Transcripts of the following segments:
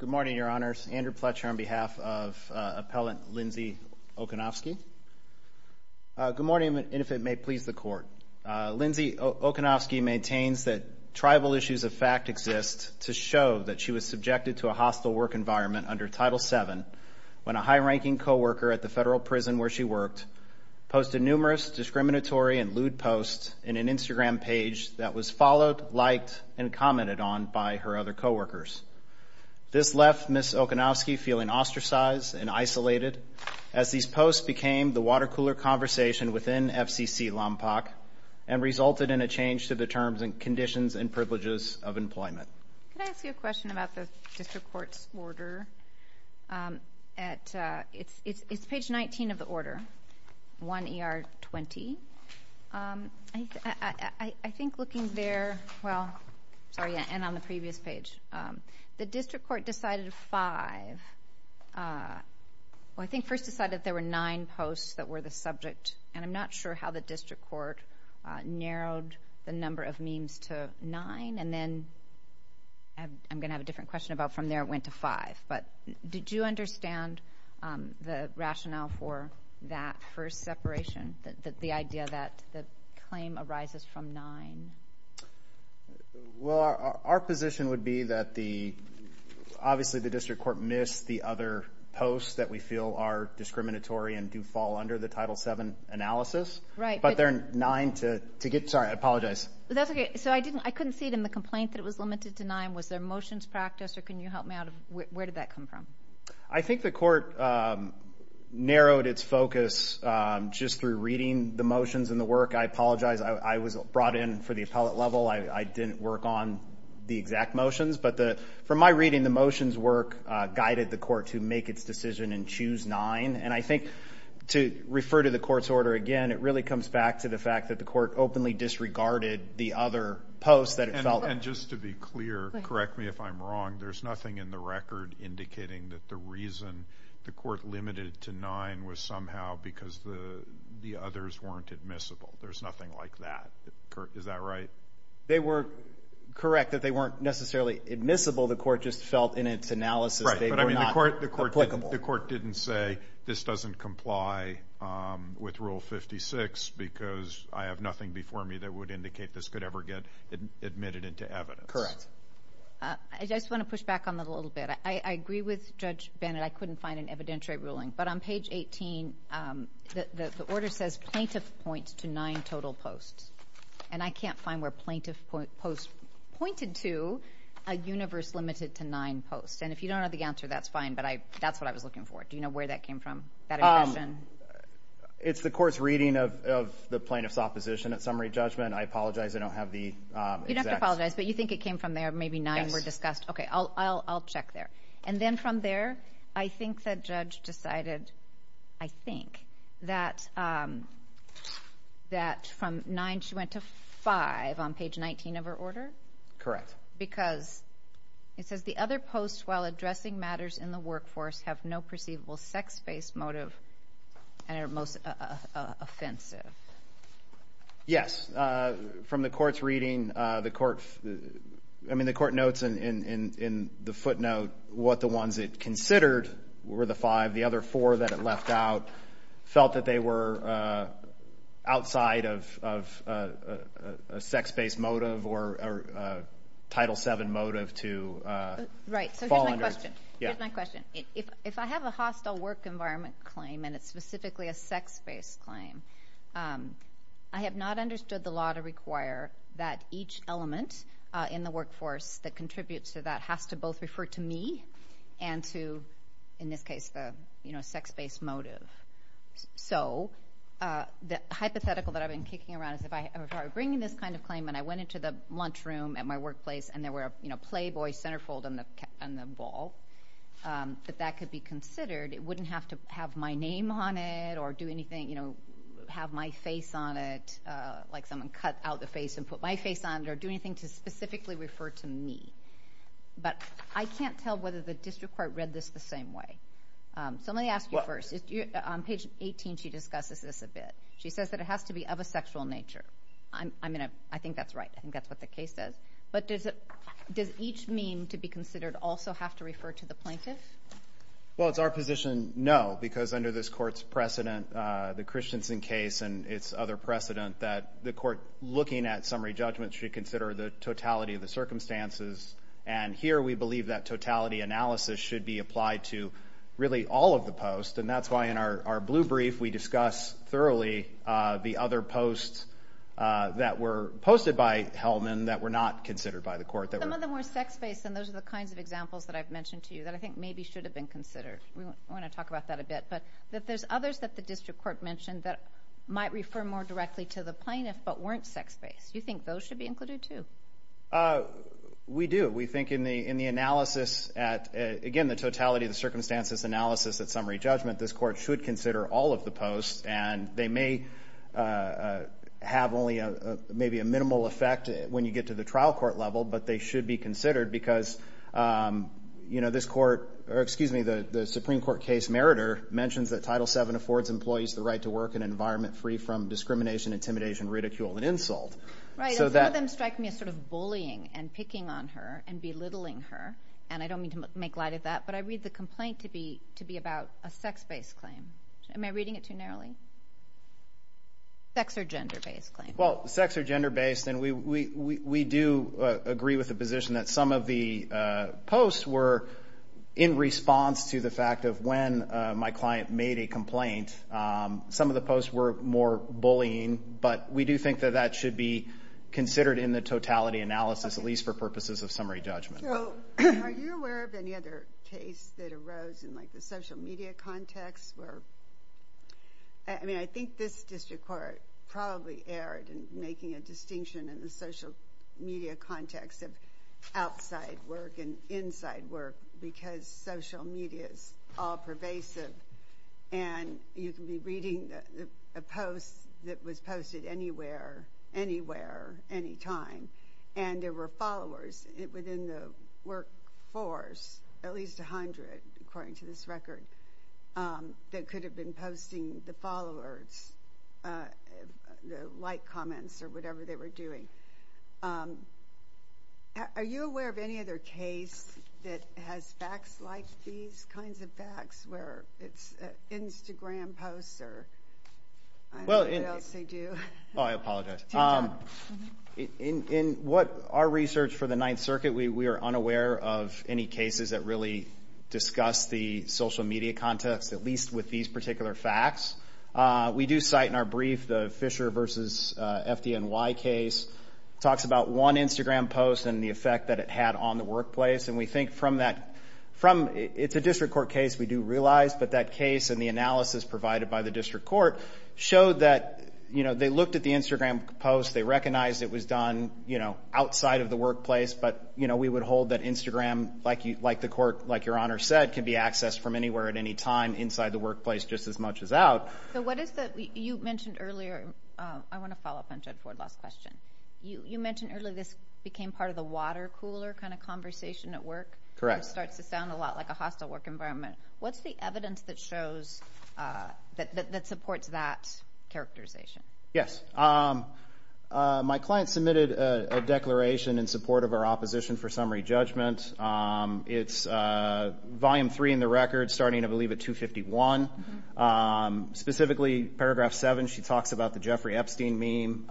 Good morning, Your Honors. Andrew Pletcher on behalf of Appellant Lindsay Okownowsky. Good morning, and if it may please the Court. Lindsay Okownowsky maintains that tribal issues of fact exist to show that she was subjected to a hostile work environment under Title VII when a high-ranking coworker at the federal prison where she worked posted numerous discriminatory and lewd posts in an Instagram page that was followed, liked, and commented on by her other coworkers. This left Ms. Okownowsky feeling ostracized and isolated as these posts became the water-cooler conversation within FCC LOMPOC and resulted in a change to the Could I ask you a question about the District Court's order? It's page 19 of the order, 1 ER 20. I think looking there, well, sorry, and on the previous page, the District Court decided five, well, I think first decided there were nine posts that were the subject, and I'm not sure how the District Court narrowed the number of memes to nine, and then I'm going to have a different question about from there it went to five, but did you understand the rationale for that first separation, the idea that the claim arises from nine? Andrew Pletcher Well, our position would be that the, obviously the District Court missed the other posts that we feel are discriminatory and do fall under the Title VII analysis, but there are nine to get, sorry, I apologize. Ms. Okownowsky That's okay. So I couldn't see it in the complaint that it was limited to nine. Was there motions practiced, or can you help me out of where did that come from? Andrew Pletcher I think the court narrowed its focus just through reading the motions and the work. I apologize. I was brought in for the appellate level. I didn't work on the exact motions, but from my reading, the refer to the court's order again, it really comes back to the fact that the court openly disregarded the other posts that it felt. Judge Goldberg And just to be clear, correct me if I'm wrong, there's nothing in the record indicating that the reason the court limited to nine was somehow because the others weren't admissible. There's nothing like that. Is that right? Andrew Pletcher They were correct that they weren't necessarily admissible. The court just felt in its analysis they were not applicable. The court didn't say this doesn't comply with Rule 56 because I have nothing before me that would indicate this could ever get admitted into evidence. Judge Goldberg Correct. Ms. Okownowsky I just want to push back on that a little bit. I agree with Judge Bennett. I couldn't find an evidentiary ruling. But on page 18, the order says plaintiff points to nine total posts. And I can't find where plaintiff posts pointed to a universe limited to nine posts. And if you don't know the answer, that's fine, but that's what I was looking for. Do you know where that came from? Andrew Pletcher It's the court's reading of the plaintiff's opposition at summary judgment. I apologize. I don't have the exact… Ms. Okownowsky You don't have to apologize, but you think it came from there. Maybe nine were discussed. Okay, I'll check there. And then from there, I think that judge decided, I think, that from nine she went to five on page 19 of her order. Andrew Pletcher Correct. Ms. Okownowsky Because it says the other posts, while addressing matters in the workforce, have no perceivable sex-based motive and are most offensive. Andrew Pletcher Yes. From the court's reading, the court notes in the footnote what the ones it considered were the five. The other four that it left out felt that they were outside of a sex-based motive or a Title VII motive to… Ms. Okownowsky Here's my question. If I have a hostile work environment claim and it's specifically a sex-based claim, I have not understood the law to require that each element in the workforce that contributes to that has to both refer to me and to, in this case, the sex-based motive. So, the hypothetical that I've been kicking around is if I'm bringing this kind of claim and I went into the lunchroom at my workplace and there was a Playboy centerfold on the wall, that that could be considered. It wouldn't have to have my name on it or have my face on it, like someone cut out the face and put my face on it, or do anything to specifically refer to me. But I can't tell whether the district court read this the same way. So, let me ask you first. On page 18, she discusses this a bit. She says that it has to be of a sexual nature. I think that's right. I think that's what the case says. But does it does each mean to be considered also have to refer to the plaintiff? Well, it's our position, no, because under this court's precedent, the Christensen case and its other precedent, that the court looking at summary judgments should consider the totality of the circumstances. And here we believe that totality analysis should be applied to really all of the posts. And that's why in our blue brief, we discuss thoroughly the other posts that were Hellman that were not considered by the court. Some of them were sex-based, and those are the kinds of examples that I've mentioned to you that I think maybe should have been considered. We want to talk about that a bit. But that there's others that the district court mentioned that might refer more directly to the plaintiff, but weren't sex-based. You think those should be included too? We do. We think in the in the analysis at, again, the totality of the circumstances analysis at summary judgment, this court should consider all of the posts. And they may have only a maybe a minimal effect when you get to the trial court level, but they should be considered because, you know, this court, or excuse me, the Supreme Court case meritor mentions that Title VII affords employees the right to work in an environment free from discrimination, intimidation, ridicule, and insult. Right, and some of them strike me as sort of bullying and picking on her and belittling her. And I don't mean to make light of that, but I read the complaint to be to be about a sex-based claim. Am I reading it too narrowly? Sex or gender-based claim. Well, sex or gender-based, and we do agree with the position that some of the posts were in response to the fact of when my client made a complaint. Some of the posts were more bullying, but we do think that that should be considered in the totality analysis, at least for purposes of summary judgment. Are you aware of any other case that arose in like the social media context where, I mean, I think this district court probably erred in making a distinction in the social media context of outside work and inside work because social media is all pervasive and you can be reading a post that was posted anywhere, anywhere, anytime, and there were followers within the work force, at least a hundred according to this record, that could have been posting the followers, the like comments or whatever they were doing. Are you aware of any other case that has facts like these kinds of facts where it's Instagram posts or I don't know what else they do? Oh, I apologize. In what our circuit, we are unaware of any cases that really discuss the social media context, at least with these particular facts. We do cite in our brief the Fisher versus FDNY case, talks about one Instagram post and the effect that it had on the workplace, and we think from that, from, it's a district court case, we do realize, but that case and the analysis provided by the district court showed that, you know, they looked at the Instagram post, they recognized it was done, you know, we would hold that Instagram, like the court, like your honor said, can be accessed from anywhere at any time inside the workplace just as much as out. So what is the, you mentioned earlier, I want to follow up on Jed Fordlaw's question. You mentioned earlier this became part of the water cooler kind of conversation at work. Correct. It starts to sound a lot like a hostile work environment. What's the evidence that shows, that supports that characterization? Yes. My client submitted a proposition for summary judgment. It's volume three in the record, starting, I believe, at 251. Specifically, paragraph seven, she talks about the Jeffrey Epstein meme,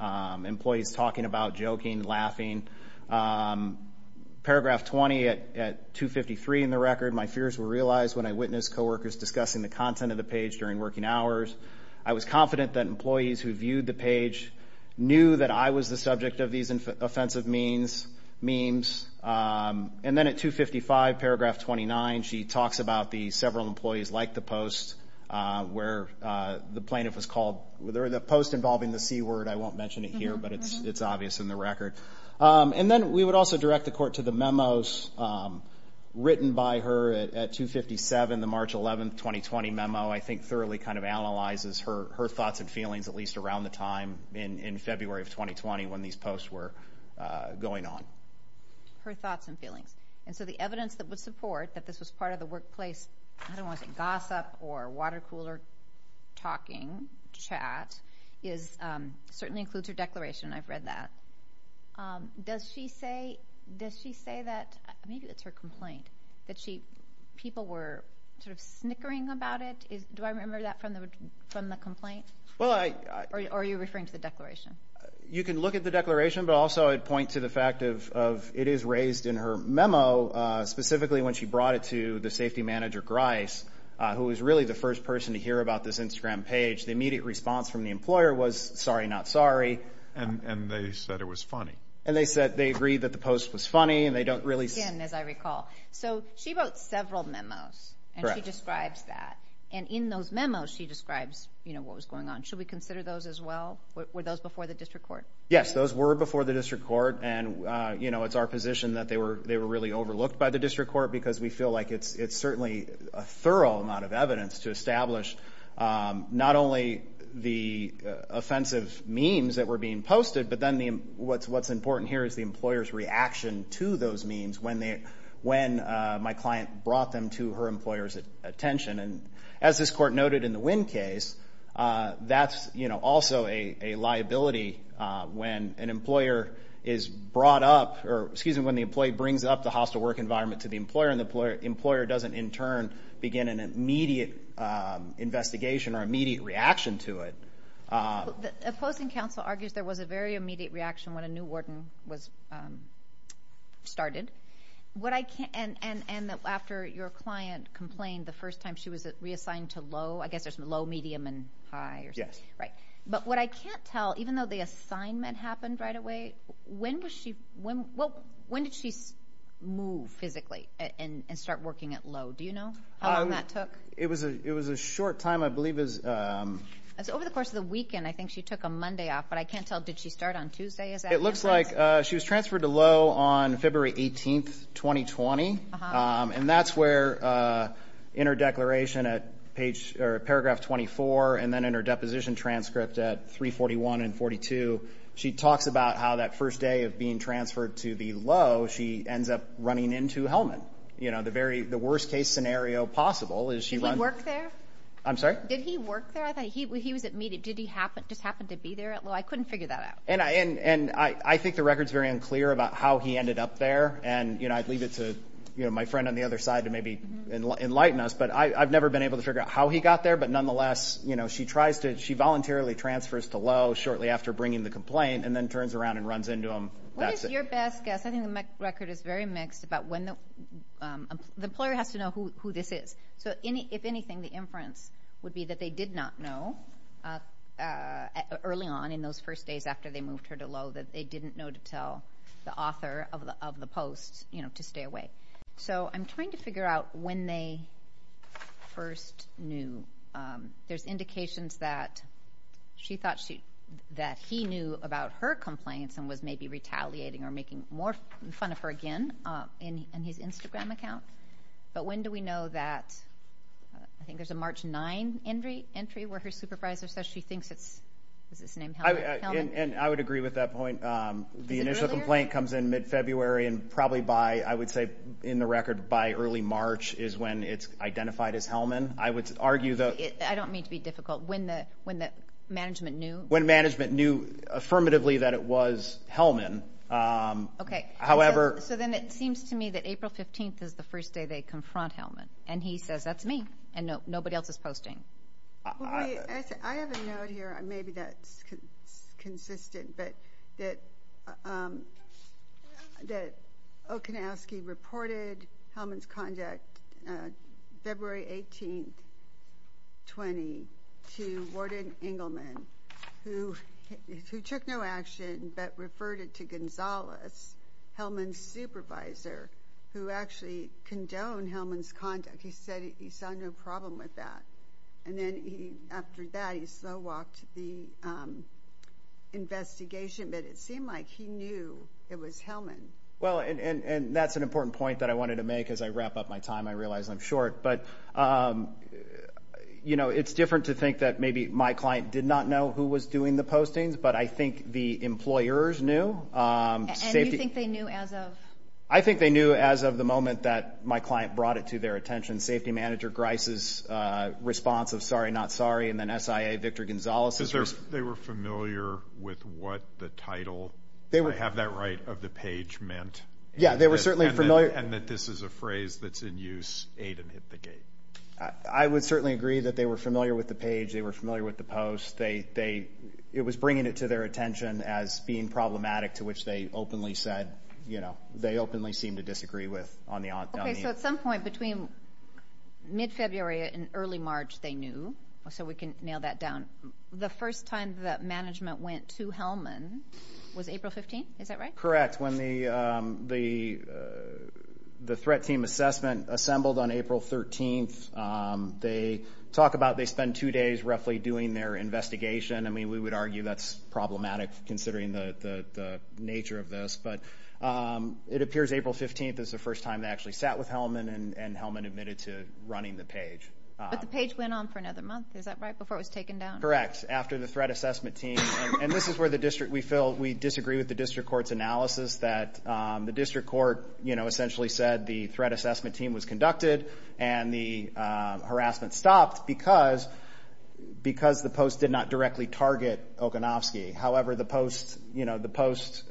employees talking about, joking, laughing. Paragraph 20 at 253 in the record, my fears were realized when I witnessed coworkers discussing the content of the page during working hours. I was confident that employees who viewed the page knew that I was the subject of these offensive memes. And then at 255, paragraph 29, she talks about the several employees like the post where the plaintiff was called, the post involving the C word, I won't mention it here, but it's obvious in the record. And then we would also direct the court to the memos written by her at 257, the March 11, 2020 memo, I think thoroughly kind of analyzes her thoughts and feelings, at least around the time in February of 2020 when these posts were going on. Her thoughts and feelings. And so the evidence that would support that this was part of the workplace, I don't want to say gossip or water cooler talking, chat, certainly includes her declaration. I've read that. Does she say, does she say that, maybe it's her complaint, that she, people were sort of snickering about it? Do I remember that from the complaint? Or are you referring to the declaration? You can look at the declaration, but also I'd point to the fact of, it is raised in her memo, specifically when she brought it to the safety manager, Grice, who was really the first person to hear about this Instagram page. The immediate response from the employer was, sorry, not sorry. And they said it was several memos. And she describes that. And in those memos, she describes, you know, what was going on. Should we consider those as well? Were those before the district court? Yes, those were before the district court. And, you know, it's our position that they were, they were really overlooked by the district court, because we feel like it's, it's certainly a thorough amount of evidence to establish not only the offensive memes that were being posted, but then the, what's, what's important here is the employer's reaction to those memes when they, when my client brought them to her employer's attention. And as this court noted in the Wynn case, that's, you know, also a liability when an employer is brought up, or excuse me, when the employee brings up the hostile work environment to the employer, and the employer doesn't in turn begin an immediate investigation or immediate reaction to it. Opposing counsel argues there was a very immediate reaction when a new warden was started. What I can't, and, and, and after your client complained, the first time she was reassigned to low, I guess there's low, medium, and high. Yes. Right. But what I can't tell, even though the assignment happened right away, when was she, when, well, when did she move physically and start working at low? Do you know how long that took? It was a, it was a short time. I believe it was... Over the course of the weekend, I think she took a Monday off, but I can't tell, did she start on Tuesday? It looks like she was transferred to low on February 18th, 2020. And that's where, in her declaration at page, or paragraph 24, and then in her deposition transcript at 341 and 42, she talks about how that first day of being transferred to the low, she ends up running into Hellman. You know, the very, the worst case scenario possible is she... Did he work there? I'm sorry? Did he work there? I thought he, he was immediate. Did he happen, just happened to be there at low? I couldn't figure that out. And I, and, and I, I think the record's very unclear about how he ended up there. And, you know, I'd leave it to, you know, my friend on the other side to maybe enlighten us, but I, I've never been able to figure out how he got there. But nonetheless, you know, she tries to, she voluntarily transfers to low shortly after bringing the complaint and then turns around and runs into him. What is your best guess? I think the record is very mixed about when the, the employer has to know who, who this is. So any, if anything, the inference would be that they did not know early on in those first days after they moved her to low that they didn't know to tell the author of the, of the post, you know, to stay away. So I'm trying to figure out when they first knew. There's indications that she thought she, that he knew about her complaints and was maybe retaliating or making more fun of her again in his Instagram account. But when do we know that? I think there's a March 9 entry, entry where her supervisor says she thinks it's, is his name Hellman? And I would agree with that point. The initial complaint comes in mid-February and probably by, I would say in the record, by early March is when it's identified as Hellman. I would argue that... I don't mean to be difficult. When the, when the management knew? When management knew affirmatively that it was Hellman, however... So then it seems to me that April 15th is the first day they confront Hellman. And he says, that's me. And no, nobody else is posting. I have a note here. Maybe that's consistent, but that, that Okinawski reported Hellman's conduct February 18th, 20, to Warden Engelman, who, who took no action, but referred it to Gonzales, Hellman's supervisor, who actually condoned Hellman's conduct. He said he saw no problem with that. And then he, after that, he slow walked the investigation, but it seemed like he knew it was Hellman. Well, and, and, and that's an important point that I wanted to make as I wrap up my time. I realize I'm short, but you know, it's different to think that maybe my client did not know who was doing the postings, but I think the employers knew. And you think they knew as of? I think they knew as of the moment that my client brought it to their attention. Safety manager Grice's response of sorry, not sorry. And then SIA, Victor Gonzales. Because they were familiar with what the title, if I have that right, of the page meant. Yeah, they were certainly familiar. And that this is a phrase that's in use, aid and hit the gate. I would certainly agree that they were familiar with the page. They were familiar with the post. They, they, it was bringing it to their attention as being problematic, to which they openly said, you know, they openly seem to disagree with on the, on the. Okay, so at some point between mid-February and early March, they knew. So we can nail that down. The first time that management went to Hellman was April 15th, is that right? Correct. When the, the, the threat team assessment assembled on April 13th, they talk about they spent two days roughly doing their investigation. I mean, we would argue that's problematic considering the, the, the nature of this. But it appears April 15th is the first time they actually sat with Hellman and, and Hellman admitted to running the page. But the page went on for another month, is that right? Before it was taken down? Correct. After the threat assessment team, and this is where the district, we feel, we disagree with the district court's analysis that the district court, you know, essentially said the threat assessment team was conducted and the harassment stopped because, because the post did not directly target Okanofsky. However, the post, you know, the post,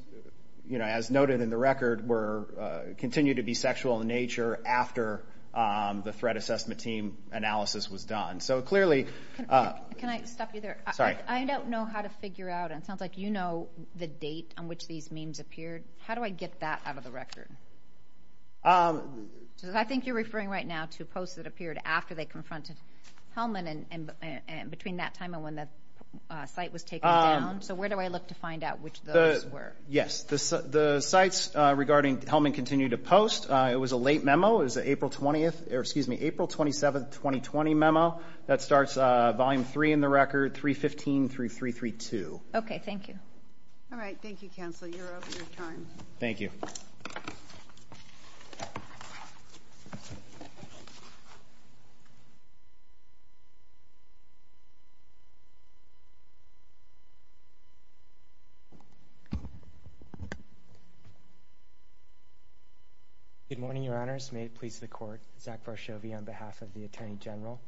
you know, as noted in the record, were, continued to be sexual in nature after the threat assessment team analysis was done. So clearly... Can I stop you there? Sorry. I don't know how to figure out, and it sounds like you know the date on which these memes appeared. How do I get that out of the record? I think you're referring right now to posts that appeared after they confronted Hellman and, and between that time and when the site was taken down. So where do I look to find out which those were? Yes. The sites regarding Hellman continue to post. It was a late memo. It was April 20th, or excuse me, April 27th, 2020 memo. That starts volume three in the record, 315-3332. Okay. Thank you. All right. Thank you, counsel. You're over your time. Thank you. Good morning, your honors. May it please the court. Zach Varshovy on behalf of the attorney general.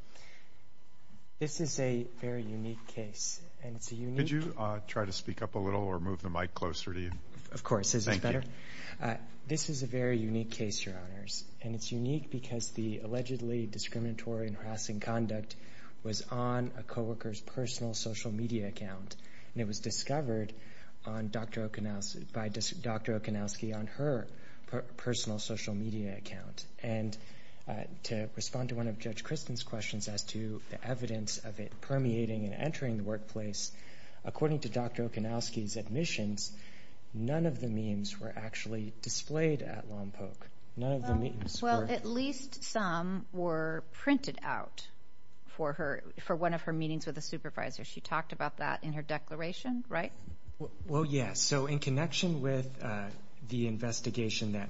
This is a very unique case, and it's a unique... Could you try to speak up a little or move the mic closer to you? Of course. Is this better? This is a very unique case, your honors, and it's unique because the allegedly discriminatory and harassing conduct was on a co-worker's personal social media account. And it was discovered by Dr. Okanowski on her personal social media account. And to respond to one of Judge Kristen's questions as to the evidence of it permeating and entering the workplace, according to Dr. Okanowski's admissions, none of the memes were actually displayed at Lompoc. None of the memes were... Well, yes. So in connection with the investigation that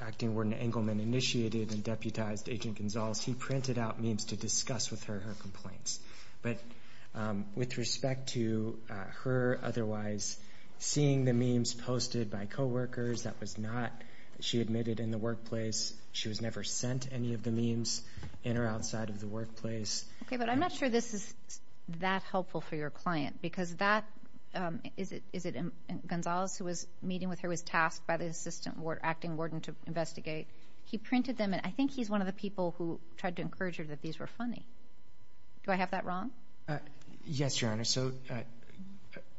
Acting Warden Engelman initiated and deputized Agent Gonzalez, he printed out memes to discuss with her her complaints. But with respect to her otherwise seeing the memes posted by co-workers, that was not... She admitted in the workplace she was never sent any of the memes in or outside of the workplace. Okay, but I'm not sure this is that helpful for your client because that... Is it Gonzalez who was meeting with her, was tasked by the Assistant Acting Warden to investigate? He printed them, and I think he's one of the people who tried to encourage her that these were funny. Do I have that wrong? Yes, your honors. So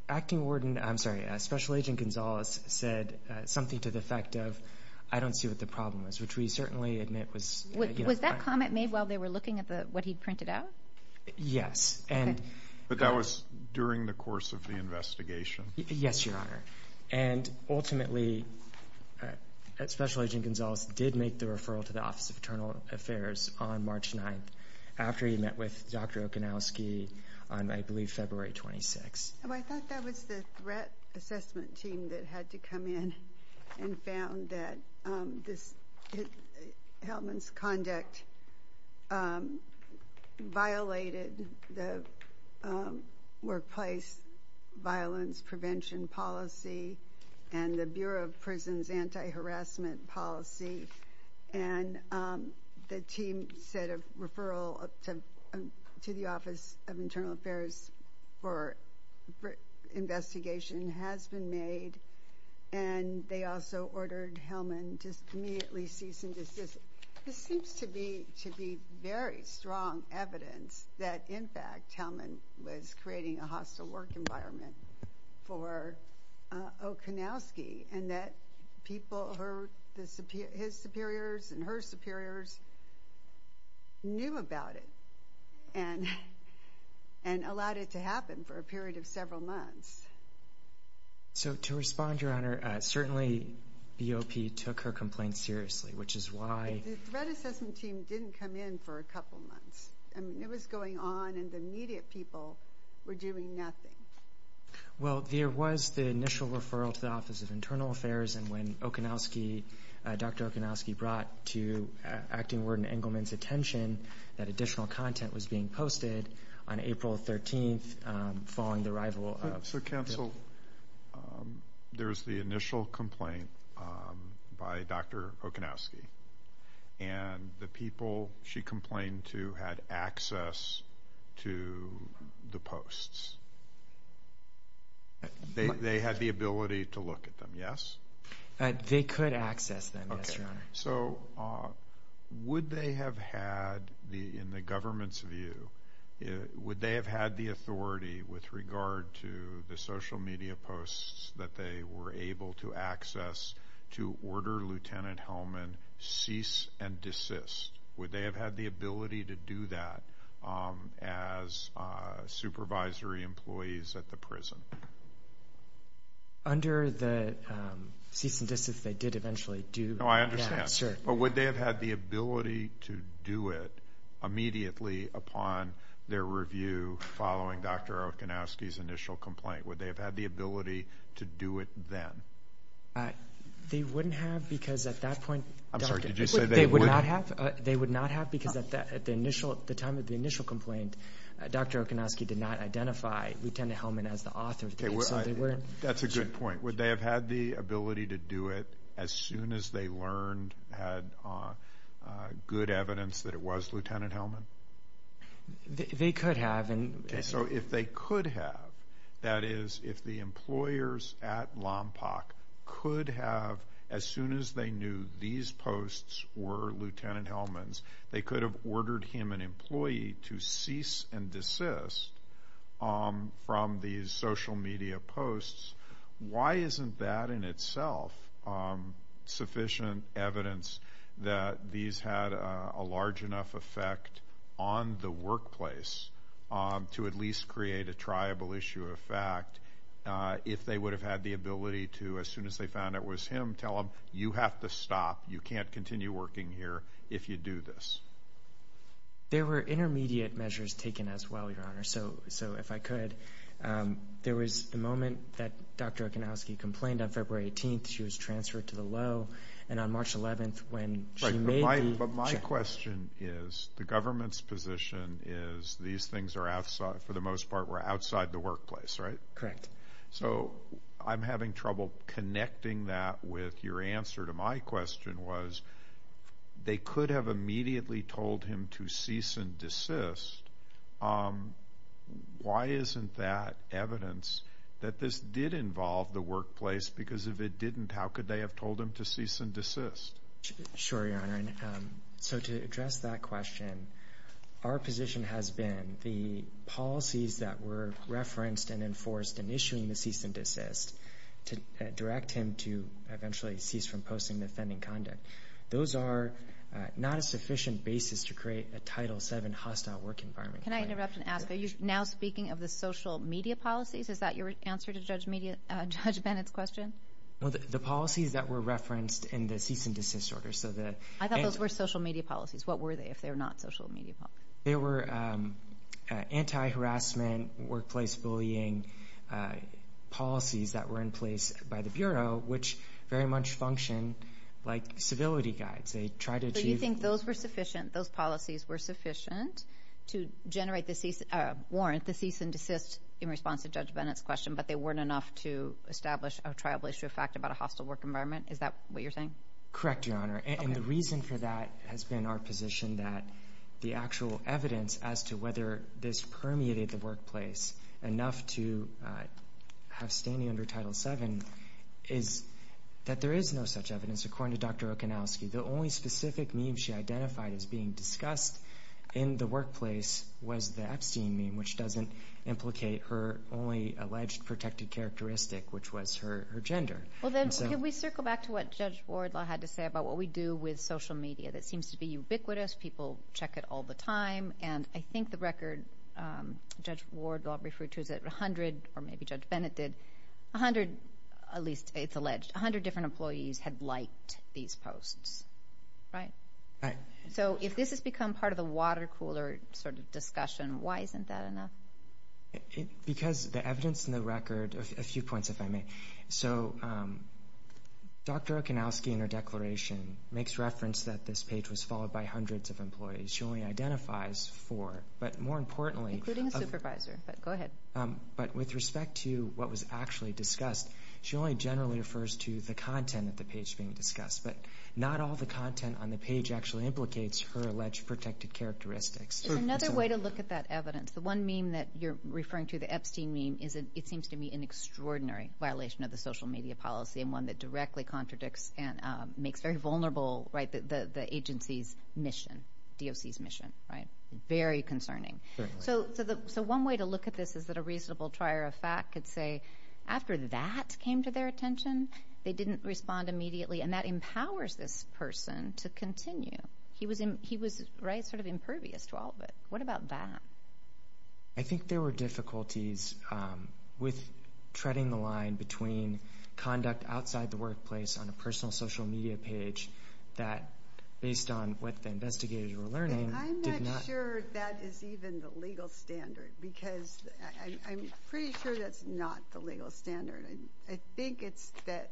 Acting Warden... I'm sorry, Special Agent Gonzalez said something to the effect of, I don't see what the problem is, which we certainly admit was... Was there a comment made while they were looking at what he printed out? Yes, and... But that was during the course of the investigation. Yes, your honor. And ultimately, Special Agent Gonzalez did make the referral to the Office of Internal Affairs on March 9th, after he met with Dr. Okanowski on, I believe, February 26th. Well, I thought that was the threat assessment team that had to come in and found that this... Hellman's conduct violated the workplace violence prevention policy and the Bureau of Prisons anti-harassment policy. And the team said a referral to the Office of Internal Affairs for investigation has been made, and they also ordered Hellman to immediately cease and desist. This seems to be very strong evidence that, in fact, Hellman was creating a hostile work environment for Okanowski and that his superiors and her superiors knew about it and allowed it to happen for a period of several months. So, to respond, your honor, certainly BOP took her complaint seriously, which is why... The threat assessment team didn't come in for a couple months. I mean, it was going on, and the media people were doing nothing. Well, there was the initial referral to the Office of Internal Affairs, and when Dr. Okanowski brought to Acting Warden Engelman's attention that additional content was being posted on April 13th, following the arrival of... So, counsel, there's the initial complaint by Dr. Okanowski, and the people she complained to had access to the posts. They had the ability to look at them, yes? They could access them, yes, your honor. So, would they have had, in the government's view, would they have had the authority with regard to the social media posts that they were able to access to order Lieutenant Hellman cease and desist? Would they have had the ability to do that as supervisory employees at the prison? Under the cease and desist they did eventually do... No, I understand. But would they have had the ability to do it immediately upon their review following Dr. Okanowski's initial complaint? Would they have had the ability to do it then? They wouldn't have, because at that point... I'm sorry, did you say they wouldn't? They would not have, because at the time of the initial complaint, Dr. Okanowski did not identify Lieutenant Hellman as the author. That's a good point. Would they have had the ability to do it as soon as they learned, had good evidence that it was Lieutenant Hellman? They could have. So, if they could have, that is, if the employers at LOMPOC could have, as soon as they knew these posts were Lieutenant Hellman's, they could have ordered him, an employee, to cease and desist from these social media posts. Why isn't that in itself sufficient evidence that these had a large enough effect on the workplace to at least create a triable issue of fact? If they would have had the ability to, as soon as they found it was him, tell him, you have to stop, you can't continue working here if you do this. There were intermediate measures taken as well, Your Honor, so if I could. There was the moment that Dr. Okanowski complained on February 18th, she was transferred to the low, and on March 11th, when she made the... Right, but my question is, the government's position is these things are outside, for the most part, were outside the workplace, right? Correct. So, I'm having trouble connecting that with your answer to my question was, they could have immediately told him to cease and desist. Why isn't that evidence that this did involve the workplace, because if it didn't, how could they have told him to cease and desist? Sure, Your Honor, so to address that question, our position has been the policies that were referenced and enforced in issuing the cease and desist, to direct him to eventually cease from posting the offending conduct. Those are not a sufficient basis to create a Title VII hostile work environment. Can I interrupt and ask, are you now speaking of the social media policies? Is that your answer to Judge Bennett's question? Well, the policies that were referenced in the cease and desist order, so the... I thought those were social media policies. What were they, if they were not social media policies? They were anti-harassment, workplace bullying policies that were in place by the Bureau, which very much function like civility guides. So, you think those policies were sufficient to generate the warrant to cease and desist in response to Judge Bennett's question, but they weren't enough to establish a tribal issue fact about a hostile work environment? Is that what you're saying? Correct, Your Honor, and the reason for that has been our position that the actual evidence as to whether this permeated the workplace enough to have standing under Title VII is that there is no such evidence. According to Dr. Okanowski, the only specific meme she identified as being discussed in the workplace was the Epstein meme, which doesn't implicate her only alleged protected characteristic, which was her gender. Well, then, can we circle back to what Judge Wardlaw had to say about what we do with social media that seems to be ubiquitous, people check it all the time, and I think the record Judge Wardlaw referred to is that 100, or maybe Judge Bennett did, 100, at least it's alleged, 100 different employees had liked these posts, right? Right. So if this has become part of the water cooler sort of discussion, why isn't that enough? Because the evidence in the record, a few points, if I may. So Dr. Okanowski in her declaration makes reference that this page was followed by hundreds of employees. She only identifies four, but more importantly... Including a supervisor, but go ahead. But with respect to what was actually discussed, she only generally refers to the content of the page being discussed, but not all the content on the page actually implicates her alleged protected characteristics. Another way to look at that evidence, the one meme that you're referring to, the Epstein meme, it seems to me an extraordinary violation of the social media policy, and one that directly contradicts and makes very vulnerable the agency's mission, DOC's mission, right? Very concerning. So one way to look at this is that a reasonable trier of fact could say, after that came to their attention, they didn't respond immediately, and that empowers this person to continue. He was, right, sort of impervious to all of it. What about that? I think there were difficulties with treading the line between conduct outside the workplace on a personal social media page that, based on what the investigators were learning, did not... I think it's that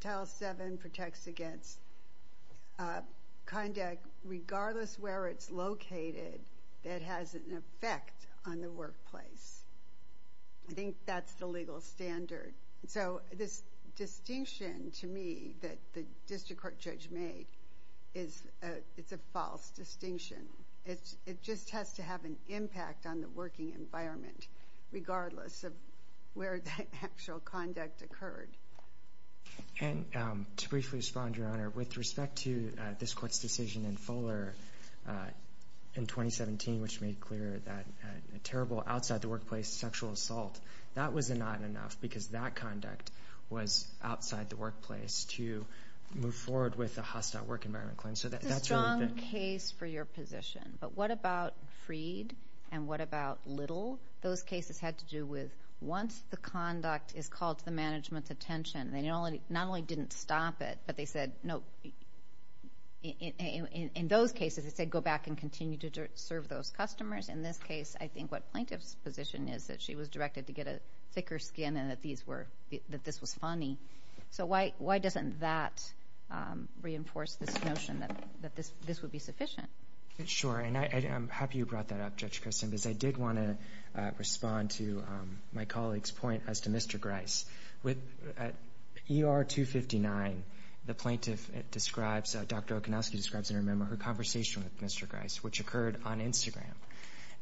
Title VII protects against conduct, regardless where it's located, that has an effect on the workplace. I think that's the legal standard. So this distinction, to me, that the district court judge made, it's a false distinction. It just has to have an impact on the working environment, regardless of where the actual conduct occurred. And to briefly respond, Your Honor, with respect to this court's decision in Fuller in 2017, which made clear that a terrible outside-the-workplace sexual assault, that was not enough because that conduct was outside the workplace to move forward with a hostile work environment claim. It's a strong case for your position, but what about Freed and what about Little? Those cases had to do with once the conduct is called to the management's attention, they not only didn't stop it, but they said, no, in those cases, they said go back and continue to serve those customers. In this case, I think what plaintiff's position is that she was directed to get a thicker skin and that this was funny. So why doesn't that reinforce this notion that this would be sufficient? Sure, and I'm happy you brought that up, Judge Christin, because I did want to respond to my colleague's point as to Mr. Grice. At ER 259, the plaintiff describes, Dr. Okonowski describes in her memo, her conversation with Mr. Grice, which occurred on Instagram.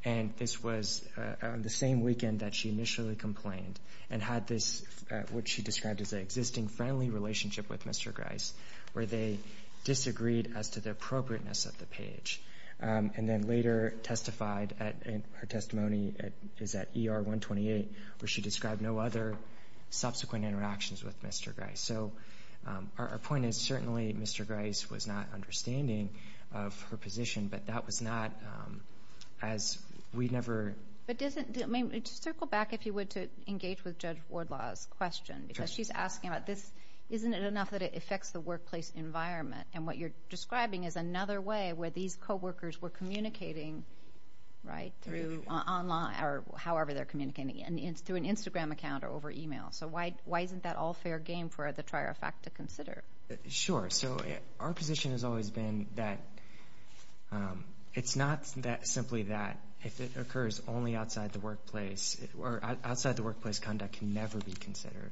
And this was on the same weekend that she initially complained and had this, what she described as an existing friendly relationship with Mr. Grice, where they disagreed as to the appropriateness of the page. And then later testified, her testimony is at ER 128, where she described no other subsequent interactions with Mr. Grice. So our point is certainly Mr. Grice was not understanding of her position, but that was not as we never – Just circle back, if you would, to engage with Judge Wardlaw's question. Because she's asking about this, isn't it enough that it affects the workplace environment? And what you're describing is another way where these co-workers were communicating, right, through online or however they're communicating, and it's through an Instagram account or over email. So why isn't that all fair game for the trier of fact to consider? Sure, so our position has always been that it's not simply that. If it occurs only outside the workplace – or outside the workplace, conduct can never be considered.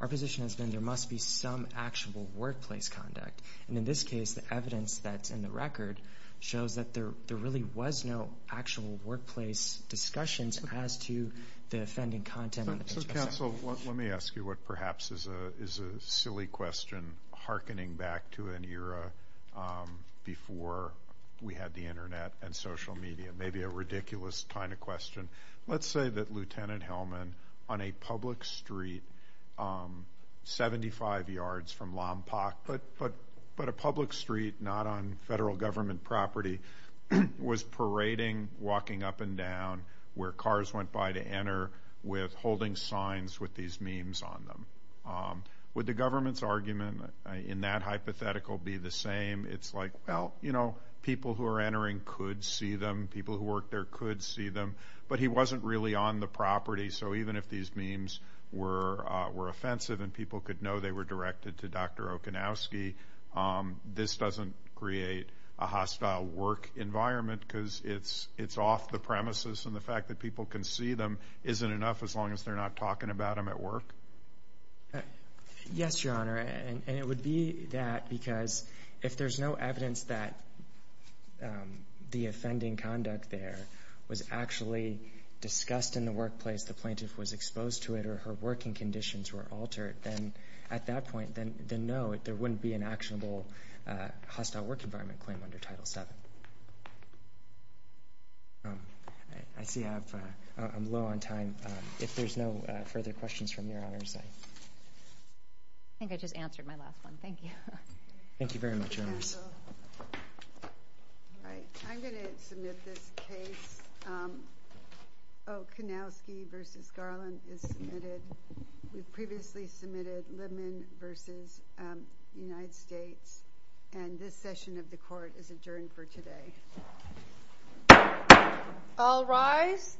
Our position has been there must be some actual workplace conduct. And in this case, the evidence that's in the record shows that there really was no actual workplace discussions as to the offending content on the page. So counsel, let me ask you what perhaps is a silly question harkening back to an era before we had the Internet and social media. Maybe a ridiculous kind of question. Let's say that Lieutenant Hellman, on a public street 75 yards from Lompoc, but a public street not on federal government property, was parading, walking up and down, where cars went by to enter with holding signs with these memes on them. Would the government's argument in that hypothetical be the same? It's like, well, you know, people who are entering could see them, people who work there could see them, but he wasn't really on the property. So even if these memes were offensive and people could know they were directed to Dr. Okanowski, this doesn't create a hostile work environment because it's off the premises and the fact that people can see them isn't enough as long as they're not talking about him at work? Yes, Your Honor, and it would be that because if there's no evidence that the offending conduct there was actually discussed in the workplace, the plaintiff was exposed to it or her working conditions were altered, then at that point, then no, there wouldn't be an actionable hostile work environment claim under Title VII. I see I'm low on time. If there's no further questions from Your Honor. I think I just answered my last one. Thank you. Thank you very much, Your Honor. I'm going to submit this case. Okanowski v. Garland is submitted. We've previously submitted Libman v. United States and this session of the Court is adjourned for today. All rise.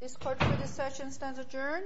This Court, for this session, stands adjourned.